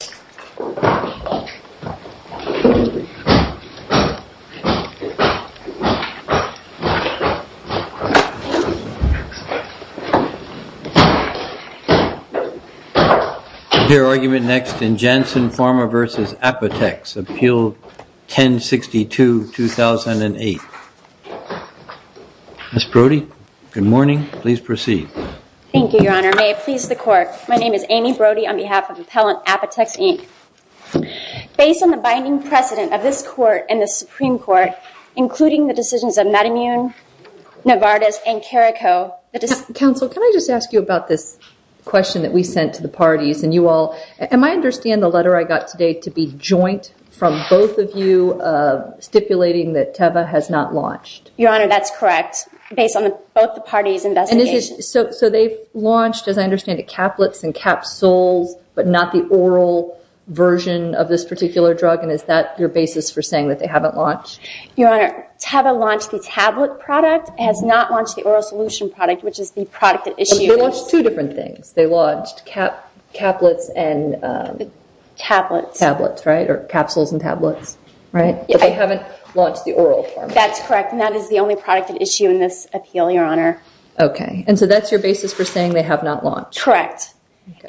Ms. Brody, good morning. Please proceed. Thank you, Your Honor. May it please the court, my name is Amy Brody on behalf of Appellant Apotex Inc. Based on the binding precedent of this court and the Supreme Court, including the decisions of Madimune, Novartis, and Carrico... Counsel, can I just ask you about this question that we sent to the parties, and you all, and I understand the letter I got today to be joint from both of you stipulating that Teva has not launched. Your Honor, that's correct, based on both the parties' investigations. So they've launched, as I understand it, Caplets and Capsules, but not the oral version of this particular drug, and is that your basis for saying that they haven't launched? Your Honor, Teva launched the tablet product, has not launched the oral solution product, which is the product that issued these... But they launched two different things. They launched Caplets and... Tablets. Tablets, right, or Capsules and Tablets, right? But they haven't launched the oral form. That's correct, and that is the only product at issue in this appeal, Your Honor. Okay, and so that's your basis for saying they have not launched? Correct,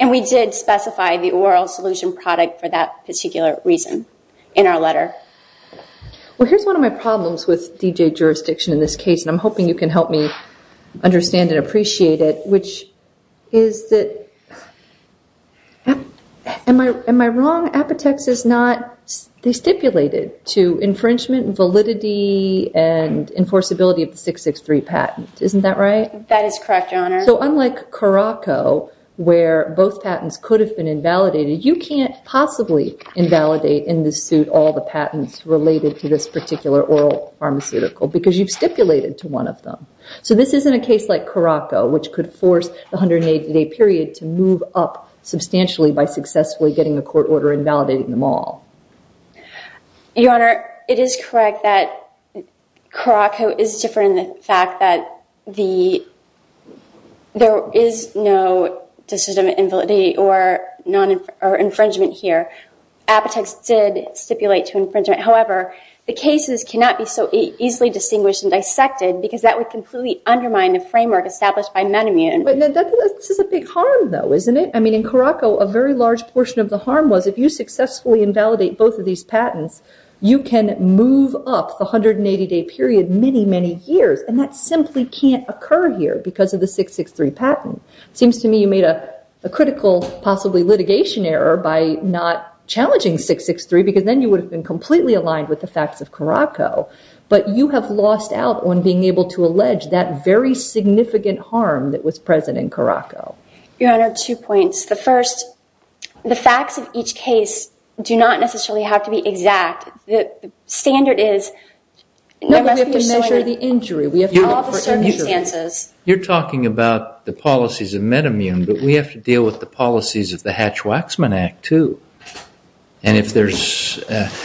and we did specify the oral solution product for that particular reason in our letter. Well, here's one of my problems with D.J. jurisdiction in this case, and I'm hoping you can help me understand and appreciate it, which is that... Am I wrong? Apotex is not... They stipulated to infringement, validity, and enforceability of the 663 patent. Isn't that right? That is correct, Your Honor. So unlike Caraco, where both patents could have been invalidated, you can't possibly invalidate in this suit all the patents related to this particular oral pharmaceutical, because you've stipulated to one of them. So this isn't a case like Caraco, which could force the 180-day period to move up substantially by successfully getting a court order and validating them all. Your Honor, it is correct that Caraco is different in the fact that there is no decision of invalidity or infringement here. Apotex did stipulate to infringement. However, the cases cannot be so easily distinguished and dissected, because that would completely undermine the framework established by Menomune. This is a big harm, though, isn't it? I mean, in Caraco, a very large portion of the harm was if you successfully invalidate both of these patents, you can move up the 180-day period many, many years, and that simply can't occur here because of the 663 patent. It seems to me you made a critical, possibly litigation error by not challenging 663, because then you would have been completely aligned with the facts of Caraco. But you have lost out on being able to allege that very significant harm that was present in Caraco. Your Honor, two points. The first, the facts of each case do not necessarily have to be exact. The standard is— No, but we have to measure the injury. We have to look for injury. You're talking about the policies of Menomune, but we have to deal with the policies of the Hatch-Waxman Act, too. And if there's—we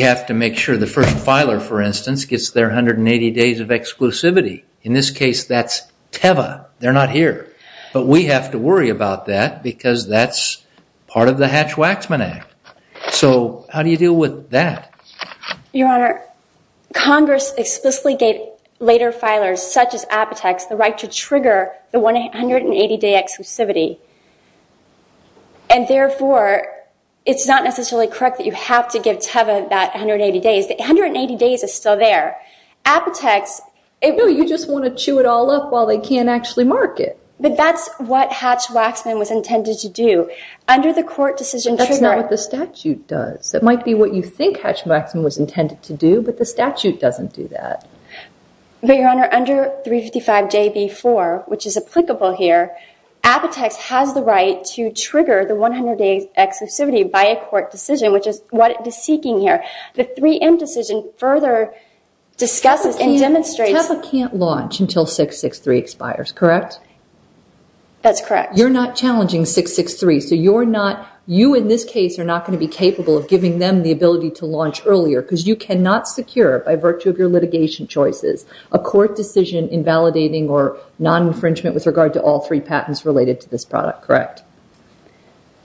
have to make sure the first filer, for instance, gets their 180 days of exclusivity. In this case, that's Teva. They're not here. But we have to worry about that, because that's part of the Hatch-Waxman Act. So how do you deal with that? Your Honor, Congress explicitly gave later filers, such as Apotex, the right to trigger the 180-day exclusivity. And therefore, it's not necessarily correct that you have to give Teva that 180 days. The 180 days is still there. Apotex— No, you just want to chew it all up while they can't actually mark it. But that's what Hatch-Waxman was intended to do. Under the court decision— That's not what the statute does. It might be what you think Hatch-Waxman was intended to do, but the statute doesn't do that. But, Your Honor, under 355JB4, which is applicable here, Apotex has the right to trigger the 100-day exclusivity by a court decision, which is what it is seeking here. The 3M decision further discusses and demonstrates— Teva can't launch until 663 expires, correct? That's correct. You're not challenging 663. You, in this case, are not going to be capable of giving them the ability to launch earlier, because you cannot secure, by virtue of your litigation choices, a court decision invalidating or non-infringement with regard to all three patents related to this product, correct?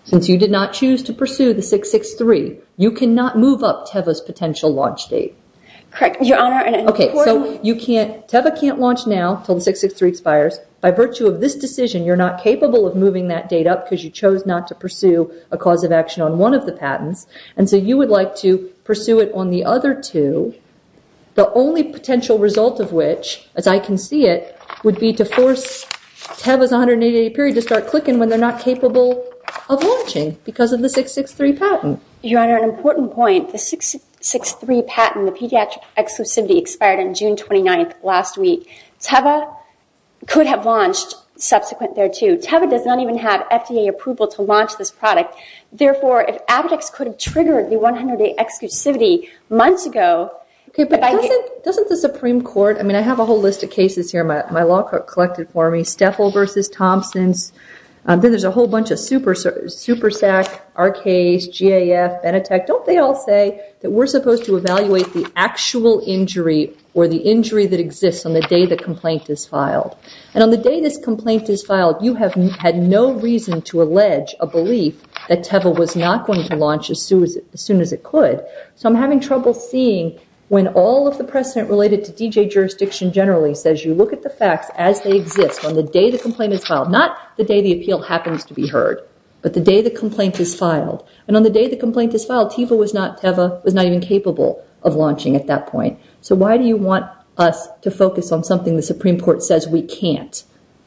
Since you did not choose to pursue the 663, you cannot move up Teva's potential launch date. Correct, Your Honor. Okay, so you can't— Teva can't launch now until the 663 expires. By virtue of this decision, you're not capable of moving that date up, because you chose not to pursue a cause of action on one of the patents. And so you would like to pursue it on the other two, the only potential result of which, as I can see it, would be to force Teva's 180-day period to start clicking when they're not capable of launching, because of the 663 patent. Your Honor, an important point. The 663 patent, the pediatric exclusivity, expired on June 29th last week. Teva could have launched subsequent thereto. Teva does not even have FDA approval to launch this product. Therefore, if Avidex could have triggered the 180-day exclusivity months ago— Okay, but doesn't the Supreme Court— I mean, I have a whole list of cases here. My law clerk collected for me. Steffel v. Thompsons. Then there's a whole bunch of SuperSAC, Arkays, GAF, Benetech. Don't they all say that we're supposed to evaluate the actual injury or the injury that exists on the day the complaint is filed? And on the day this complaint is filed, you have had no reason to allege a belief that Teva was not going to launch as soon as it could. So I'm having trouble seeing when all of the precedent related to DJ jurisdiction generally says you look at the facts as they exist on the day the complaint is filed. Not the day the appeal happens to be heard, but the day the complaint is filed. And on the day the complaint is filed, Teva was not even capable of launching at that point. So why do you want us to focus on something the Supreme Court says we can't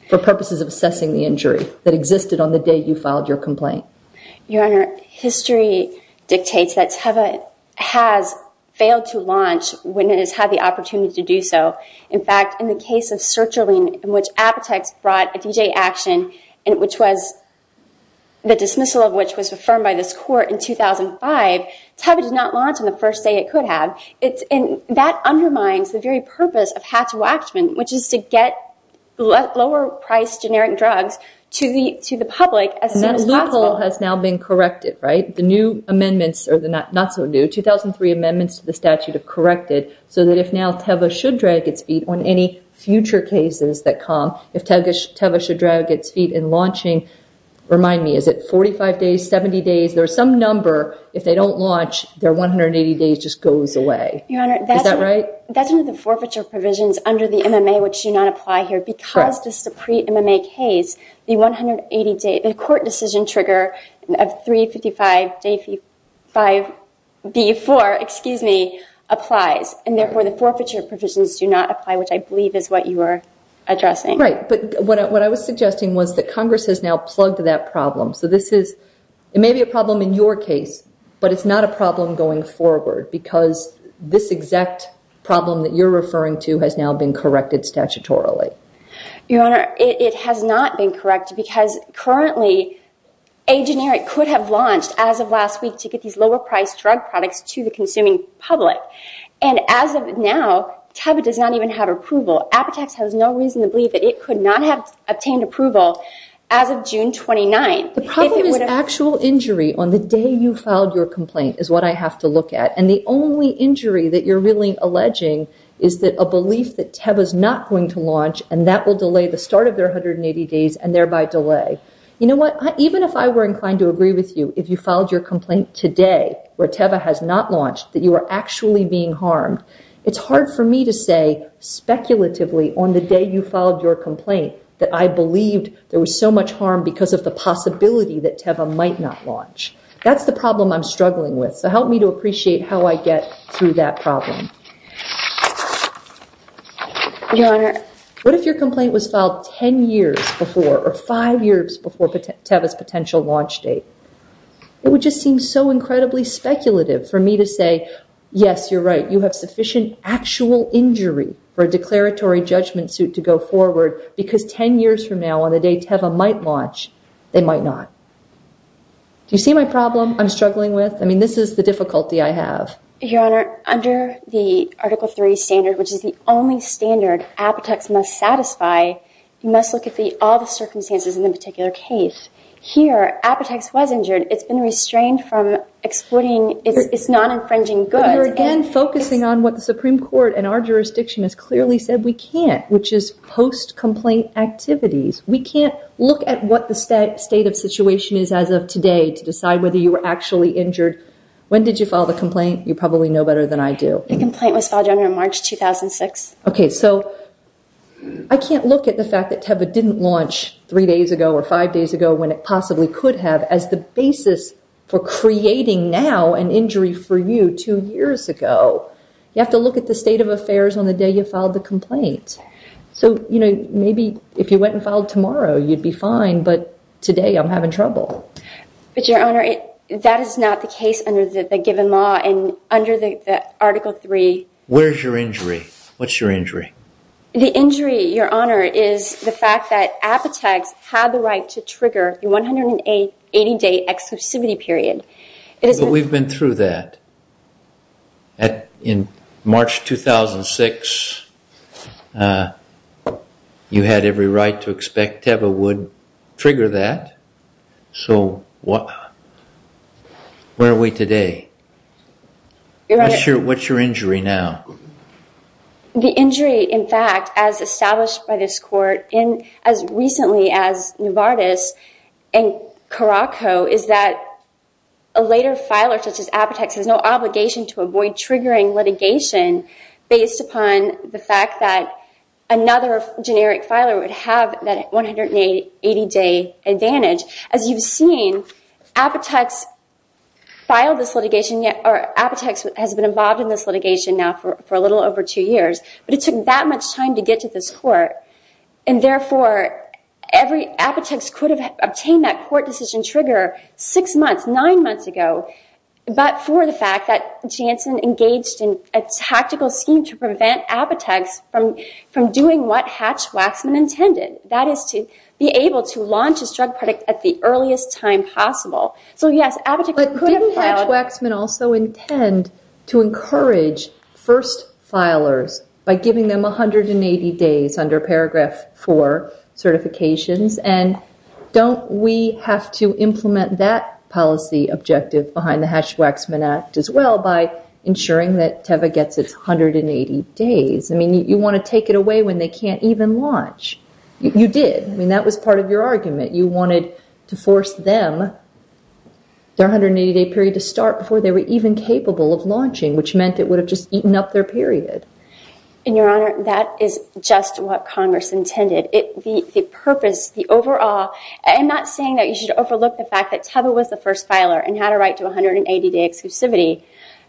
for purposes of assessing the injury that existed on the day you filed your complaint? Your Honor, history dictates that Teva has failed to launch when it has had the opportunity to do so. In fact, in the case of Sertraline, in which Apotex brought a DJ action, and which was the dismissal of which was affirmed by this court in 2005, Teva did not launch on the first day it could have. And that undermines the very purpose of Hatz Waxman, which is to get lower-priced generic drugs to the public as soon as possible. And that loophole has now been corrected, right? The new amendments, or the not-so-new 2003 amendments to the statute have corrected so that if now Teva should drag its feet on any future cases that come, if Teva should drag its feet in launching, remind me, is it 45 days, 70 days? There's some number, if they don't launch, their 180 days just goes away. Your Honor, that's under the forfeiture provisions under the MMA, which do not apply here. Because this is a pre-MMA case, the 180-day court decision trigger of 355 days before, excuse me, applies. And therefore, the forfeiture provisions do not apply, which I believe is what you were addressing. Right, but what I was suggesting was that Congress has now plugged that problem. So this is, it may be a problem in your case, but it's not a problem going forward because this exact problem that you're referring to has now been corrected statutorily. Your Honor, it has not been corrected because currently, a generic could have launched as of last week to get these lower-priced drug products to the consuming public. And as of now, Teva does not even have approval. Apotex has no reason to believe that it could not have obtained approval as of June 29th. The problem is actual injury on the day you filed your complaint is what I have to look at. And the only injury that you're really alleging is that a belief that Teva's not going to launch and that will delay the start of their 180 days and thereby delay. You know what? Even if I were inclined to agree with you, if you filed your complaint today, where Teva has not launched, that you are actually being harmed, it's hard for me to say, speculatively, on the day you filed your complaint, that I believed there was so much harm because of the possibility that Teva might not launch. That's the problem I'm struggling with. So help me to appreciate how I get through that problem. Your Honor. What if your complaint was filed 10 years before or five years before Teva's potential launch date? It would just seem so incredibly speculative for me to say, yes, you're right, you have sufficient actual injury for a declaratory judgment suit to go forward because 10 years from now on the day Teva might launch, they might not. Do you see my problem I'm struggling with? I mean, this is the difficulty I have. Your Honor, under the Article 3 standard, which is the only standard Apotex must satisfy, you must look at all the circumstances in the particular case. Here, Apotex was injured. It's been restrained from exploiting its non-infringing goods. You're again focusing on what the Supreme Court and our jurisdiction has clearly said we can't, which is post-complaint activities. We can't look at what the state of situation is as of today to decide whether you were actually injured. When did you file the complaint? You probably know better than I do. The complaint was filed, Your Honor, in March 2006. Okay. So I can't look at the fact that Teva didn't launch three days ago or five days ago when it possibly could have as the basis for creating now an injury for you two years ago. You have to look at the state of affairs on the day you filed the complaint. So maybe if you went and filed tomorrow, you'd be fine. But today, I'm having trouble. But Your Honor, that is not the case under the given law. And under the Article 3... Where's your injury? What's your injury? The injury, Your Honor, is the fact that Apotex had the right to trigger the 180-day exclusivity period. But we've been through that. In March 2006, you had every right to expect Teva would trigger that. So where are we today? What's your injury now? The injury, in fact, as established by this Court, and as recently as Nuvartis and Caraco, is that a later filer, such as Apotex, has no obligation to avoid triggering litigation based upon the fact that another generic filer would have that 180-day advantage. As you've seen, Apotex filed this litigation... Apotex has been involved in this litigation now for a little over two years. But it took that much time to get to this Court. And therefore, Apotex could have obtained that Court decision trigger six months, nine months ago, but for the fact that Jansen engaged in a tactical scheme to prevent Apotex from doing what Hatch-Waxman intended. That is to be able to launch a drug product at the earliest time possible. So yes, Apotex could have filed... But didn't Hatch-Waxman also intend to encourage first filers by giving them 180 days under Paragraph 4 certifications? And don't we have to implement that policy objective behind the Hatch-Waxman Act as well by ensuring that Teva gets its 180 days? I mean, you want to take it away when they can't even launch. You did. I mean, that was part of your argument. You wanted to force them, their 180-day period, to start before they were even capable of launching, which meant it would have just eaten up their period. And Your Honor, that is just what Congress intended. The purpose, the overall... I'm not saying that you should overlook the fact that Teva was the first filer and had a right to 180-day exclusivity.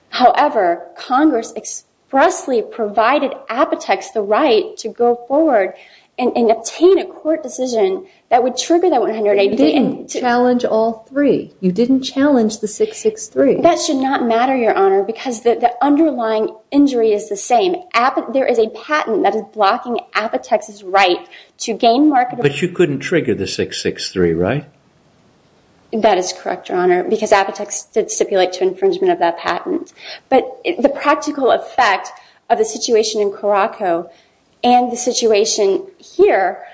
However, Congress expressly provided Apotex the right to go forward and obtain a Court decision that would trigger that 180-day... You didn't challenge all three. You didn't challenge the 663. That should not matter, Your Honor, because the underlying injury is the same. There is a patent that is blocking Apotex's right to gain market... But you couldn't trigger the 663, right? That is correct, Your Honor, because Apotex did stipulate to infringement of that patent. But the practical effect of the situation in Caraco and the situation here,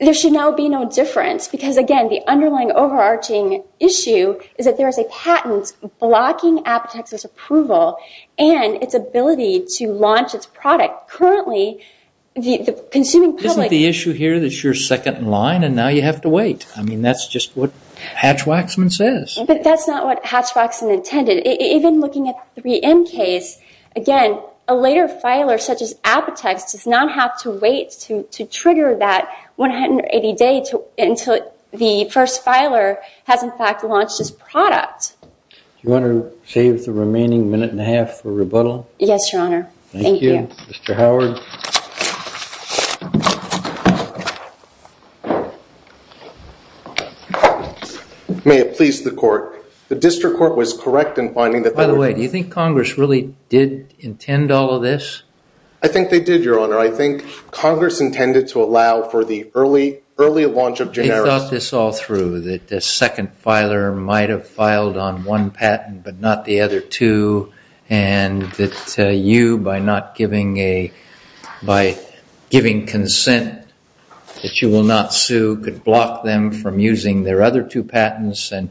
there should now be no difference. Because again, the underlying overarching issue is that there is a patent blocking Apotex's approval and its ability to launch its product. Currently, the consuming public... Isn't the issue here that you're second in line and now you have to wait? I mean, that's just what Hatch-Waxman says. But that's not what Hatch-Waxman intended. Even looking at the 3M case, again, a later filer such as Apotex does not have to wait to trigger that 180-day until the first filer has in fact launched its product. Do you want to save the remaining minute and a half for rebuttal? Yes, Your Honor. Thank you, Mr. Howard. May it please the court. The district court was correct in finding that... By the way, do you think Congress really did intend all of this? I think they did, Your Honor. I think Congress intended to allow for the early launch of generics. They thought this all through, that the second filer might have filed on one patent, but not the other two, and that you, by not giving a... By giving consent that you will not sue, could block them from using their other two patents. And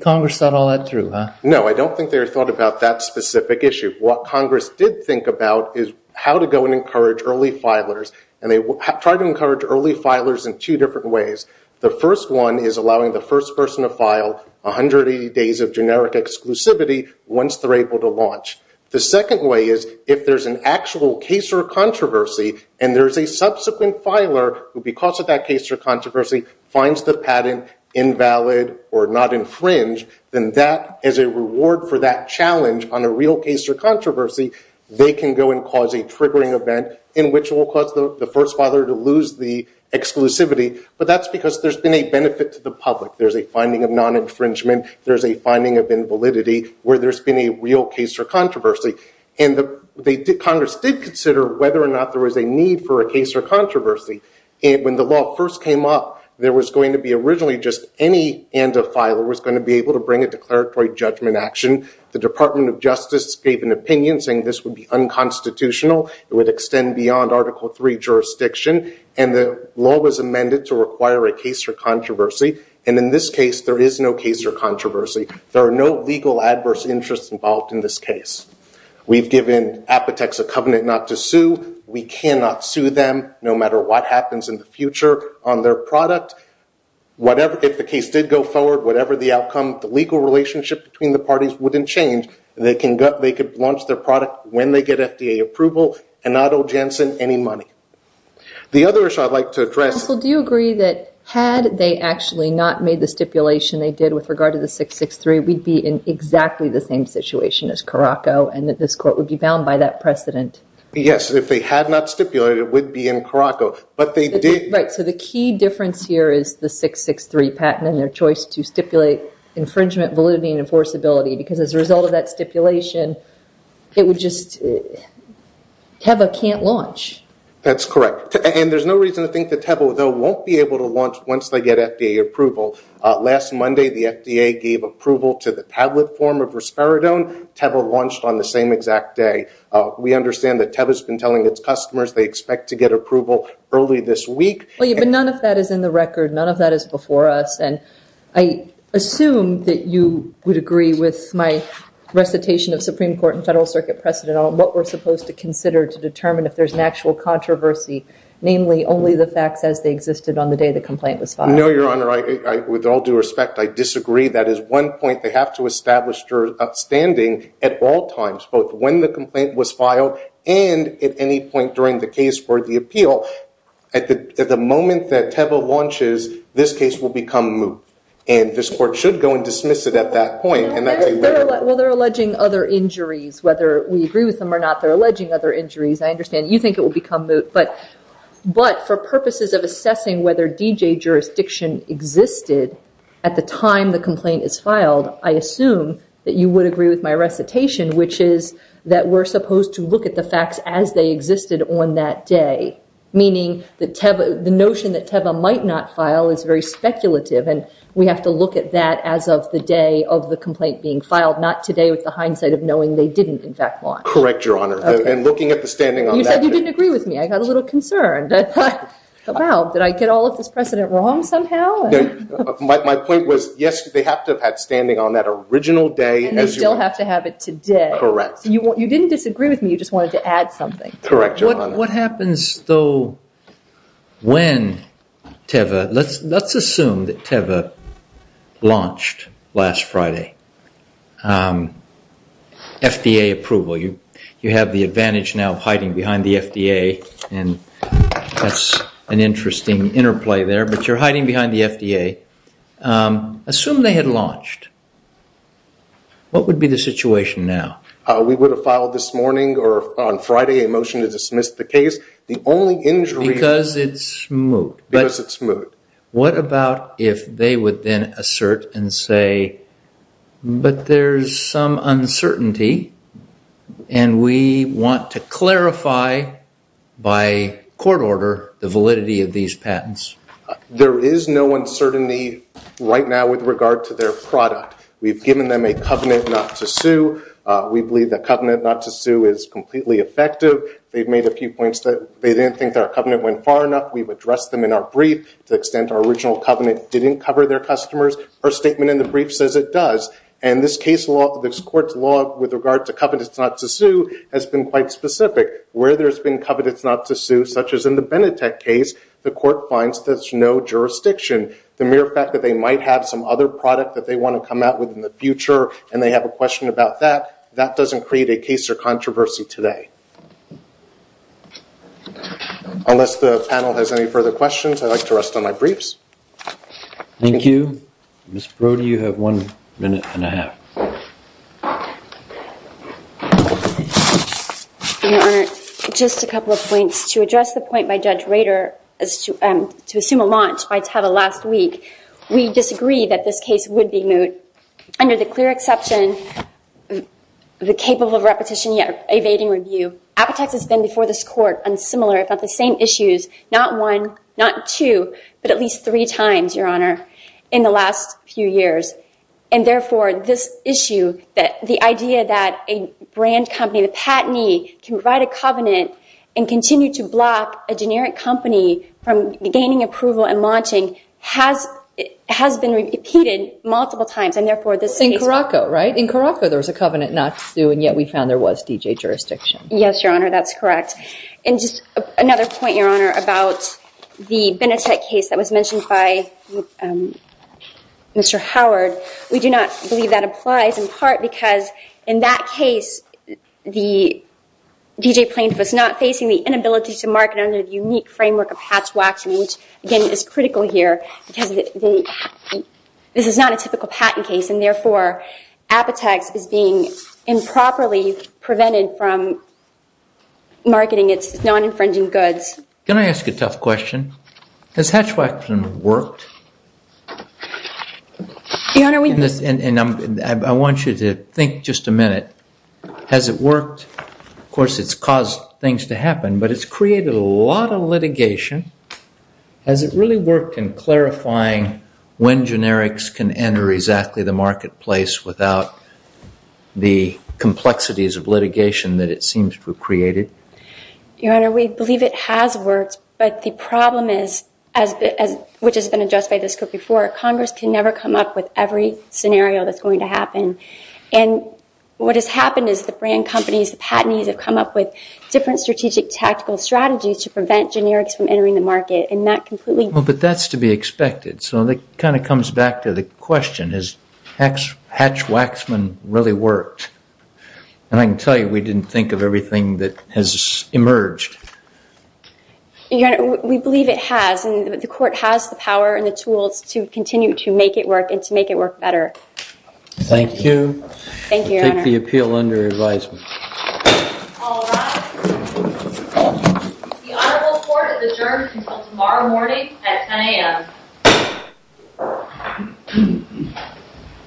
Congress thought all that through, huh? No, I don't think they thought about that specific issue. What Congress did think about is how to go and encourage early filers. And they tried to encourage early filers in two different ways. The first one is allowing the first person to file 180 days of generic exclusivity once they're able to launch. The second way is, if there's an actual case or controversy, and there's a subsequent filer who, because of that case or controversy, finds the patent invalid or not infringe, then that is a reward for that challenge on a real case or controversy. They can go and cause a triggering event in which will cause the first filer to lose the exclusivity. But that's because there's been a benefit to the public. There's a finding of non-infringement. There's a finding of invalidity where there's been a real case or controversy. And Congress did consider whether or not there was a need for a case or controversy. And when the law first came up, there was going to be originally just any end of filer was going to be able to bring a declaratory judgment action. The Department of Justice gave an opinion saying this would be unconstitutional. It would extend beyond Article III jurisdiction. And the law was amended to require a case or controversy. And in this case, there is no case or controversy. There are no legal adverse interests involved in this case. We've given Apotex a covenant not to sue. We cannot sue them no matter what happens in the future on their product. If the case did go forward, whatever the outcome, the legal relationship between the parties wouldn't change. They could launch their product when they get FDA approval and not owe Janssen any money. The other issue I'd like to address- Counsel, do you agree that had they actually not made the stipulation they did with regard to the 663, we'd be in exactly the same situation as Caraco and that this court would be bound by that precedent? Yes, if they had not stipulated, it would be in Caraco. But they did- Right, so the key difference here is the 663 patent and their choice to stipulate infringement validity and enforceability. Because as a result of that stipulation, it would just have a can't launch. That's correct. There's no reason to think that Tevo, though, won't be able to launch once they get FDA approval. Last Monday, the FDA gave approval to the tablet form of risperidone. Tevo launched on the same exact day. We understand that Tevo's been telling its customers they expect to get approval early this week. But none of that is in the record. None of that is before us. I assume that you would agree with my recitation of Supreme Court and Federal Circuit precedent on what we're supposed to consider to determine if there's an actual controversy namely only the facts as they existed on the day the complaint was filed. No, Your Honor, with all due respect, I disagree. That is one point they have to establish standing at all times, both when the complaint was filed and at any point during the case for the appeal. At the moment that Tevo launches, this case will become moot. And this court should go and dismiss it at that point. And that's a- Well, they're alleging other injuries, whether we agree with them or not. They're alleging other injuries. I understand you think it will become moot. But for purposes of assessing whether D.J. jurisdiction existed at the time the complaint is filed, I assume that you would agree with my recitation, which is that we're supposed to look at the facts as they existed on that day. Meaning the notion that Tevo might not file is very speculative. And we have to look at that as of the day of the complaint being filed, not today with the hindsight of knowing they didn't in fact launch. Correct, Your Honor. And looking at the standing on that day- You said you didn't agree with me. I got a little concerned. I thought, wow, did I get all of this precedent wrong somehow? My point was, yes, they have to have had standing on that original day- And they still have to have it today. Correct. You didn't disagree with me. You just wanted to add something. Correct, Your Honor. What happens though when Tevo- Let's assume that Tevo launched last Friday. FDA approval. You have the advantage now of hiding behind the FDA. And that's an interesting interplay there. But you're hiding behind the FDA. Assume they had launched. What would be the situation now? We would have filed this morning or on Friday a motion to dismiss the case. The only injury- Because it's smooth. Because it's smooth. What about if they would then assert and say, but there's some uncertainty and we want to clarify by court order the validity of these patents? There is no uncertainty right now with regard to their product. We've given them a covenant not to sue. We believe that covenant not to sue is completely effective. They've made a few points that they didn't think their covenant went far enough. We've addressed them in our brief to the extent our original covenant didn't cover their customers. Her statement in the brief says it does. And this case law, this court's law with regard to covenants not to sue has been quite specific. Where there's been covenants not to sue, such as in the Benetech case, the court finds there's no jurisdiction. The mere fact that they might have some other product that they want to come out with in the future and they have a question about that, that doesn't create a case or controversy today. Unless the panel has any further questions, I'd like to rest on my briefs. Thank you. Mr. Brody, you have one minute and a half. OK. Your Honor, just a couple of points. To address the point by Judge Rader as to assume a launch by Tata last week, we disagree that this case would be moot. Under the clear exception of the capable of repetition yet evading review, Apotex has been before this court on similar if not the same issues, not one, not two, but at least three times, Your Honor, in the last few years. And therefore, this issue the idea that a brand company, the patenee, can write a covenant and continue to block a generic company from gaining approval and launching has been repeated multiple times. And therefore, this case... In Caraco, right? In Caraco, there was a covenant not to sue and yet we found there was D.J. jurisdiction. Yes, Your Honor, that's correct. And just another point, Your Honor, about the Benetech case that was mentioned by Mr. Howard. We do not believe that applies in part because in that case, the D.J. plaintiff was not facing the inability to market under the unique framework of Hatch-Waxman, which, again, is critical here because this is not a typical patent case and therefore Apotex is being improperly prevented from marketing its non-infringing goods. Can I ask a tough question? Has Hatch-Waxman worked? Your Honor, we... And I want you to think just a minute. Has it worked? Of course, it's caused things to happen, but it's created a lot of litigation. Has it really worked in clarifying when generics can enter exactly the marketplace without the complexities of litigation that it seems to have created? Your Honor, we believe it has worked, but the problem is, which has been addressed by this Court before, Congress can never come up with every scenario that's going to happen. And what has happened is the brand companies, the patentees, have come up with different strategic tactical strategies to prevent generics from entering the market and that completely... Well, but that's to be expected. So that kind of comes back to the question, has Hatch-Waxman really worked? And I can tell you, we didn't think of everything that has emerged. Your Honor, we believe it has, and the Court has the power and the tools to continue to make it work and to make it work better. Thank you. Thank you, Your Honor. I take the appeal under advisement. All rise. The Honorable Court is adjourned until tomorrow morning at 10 a.m.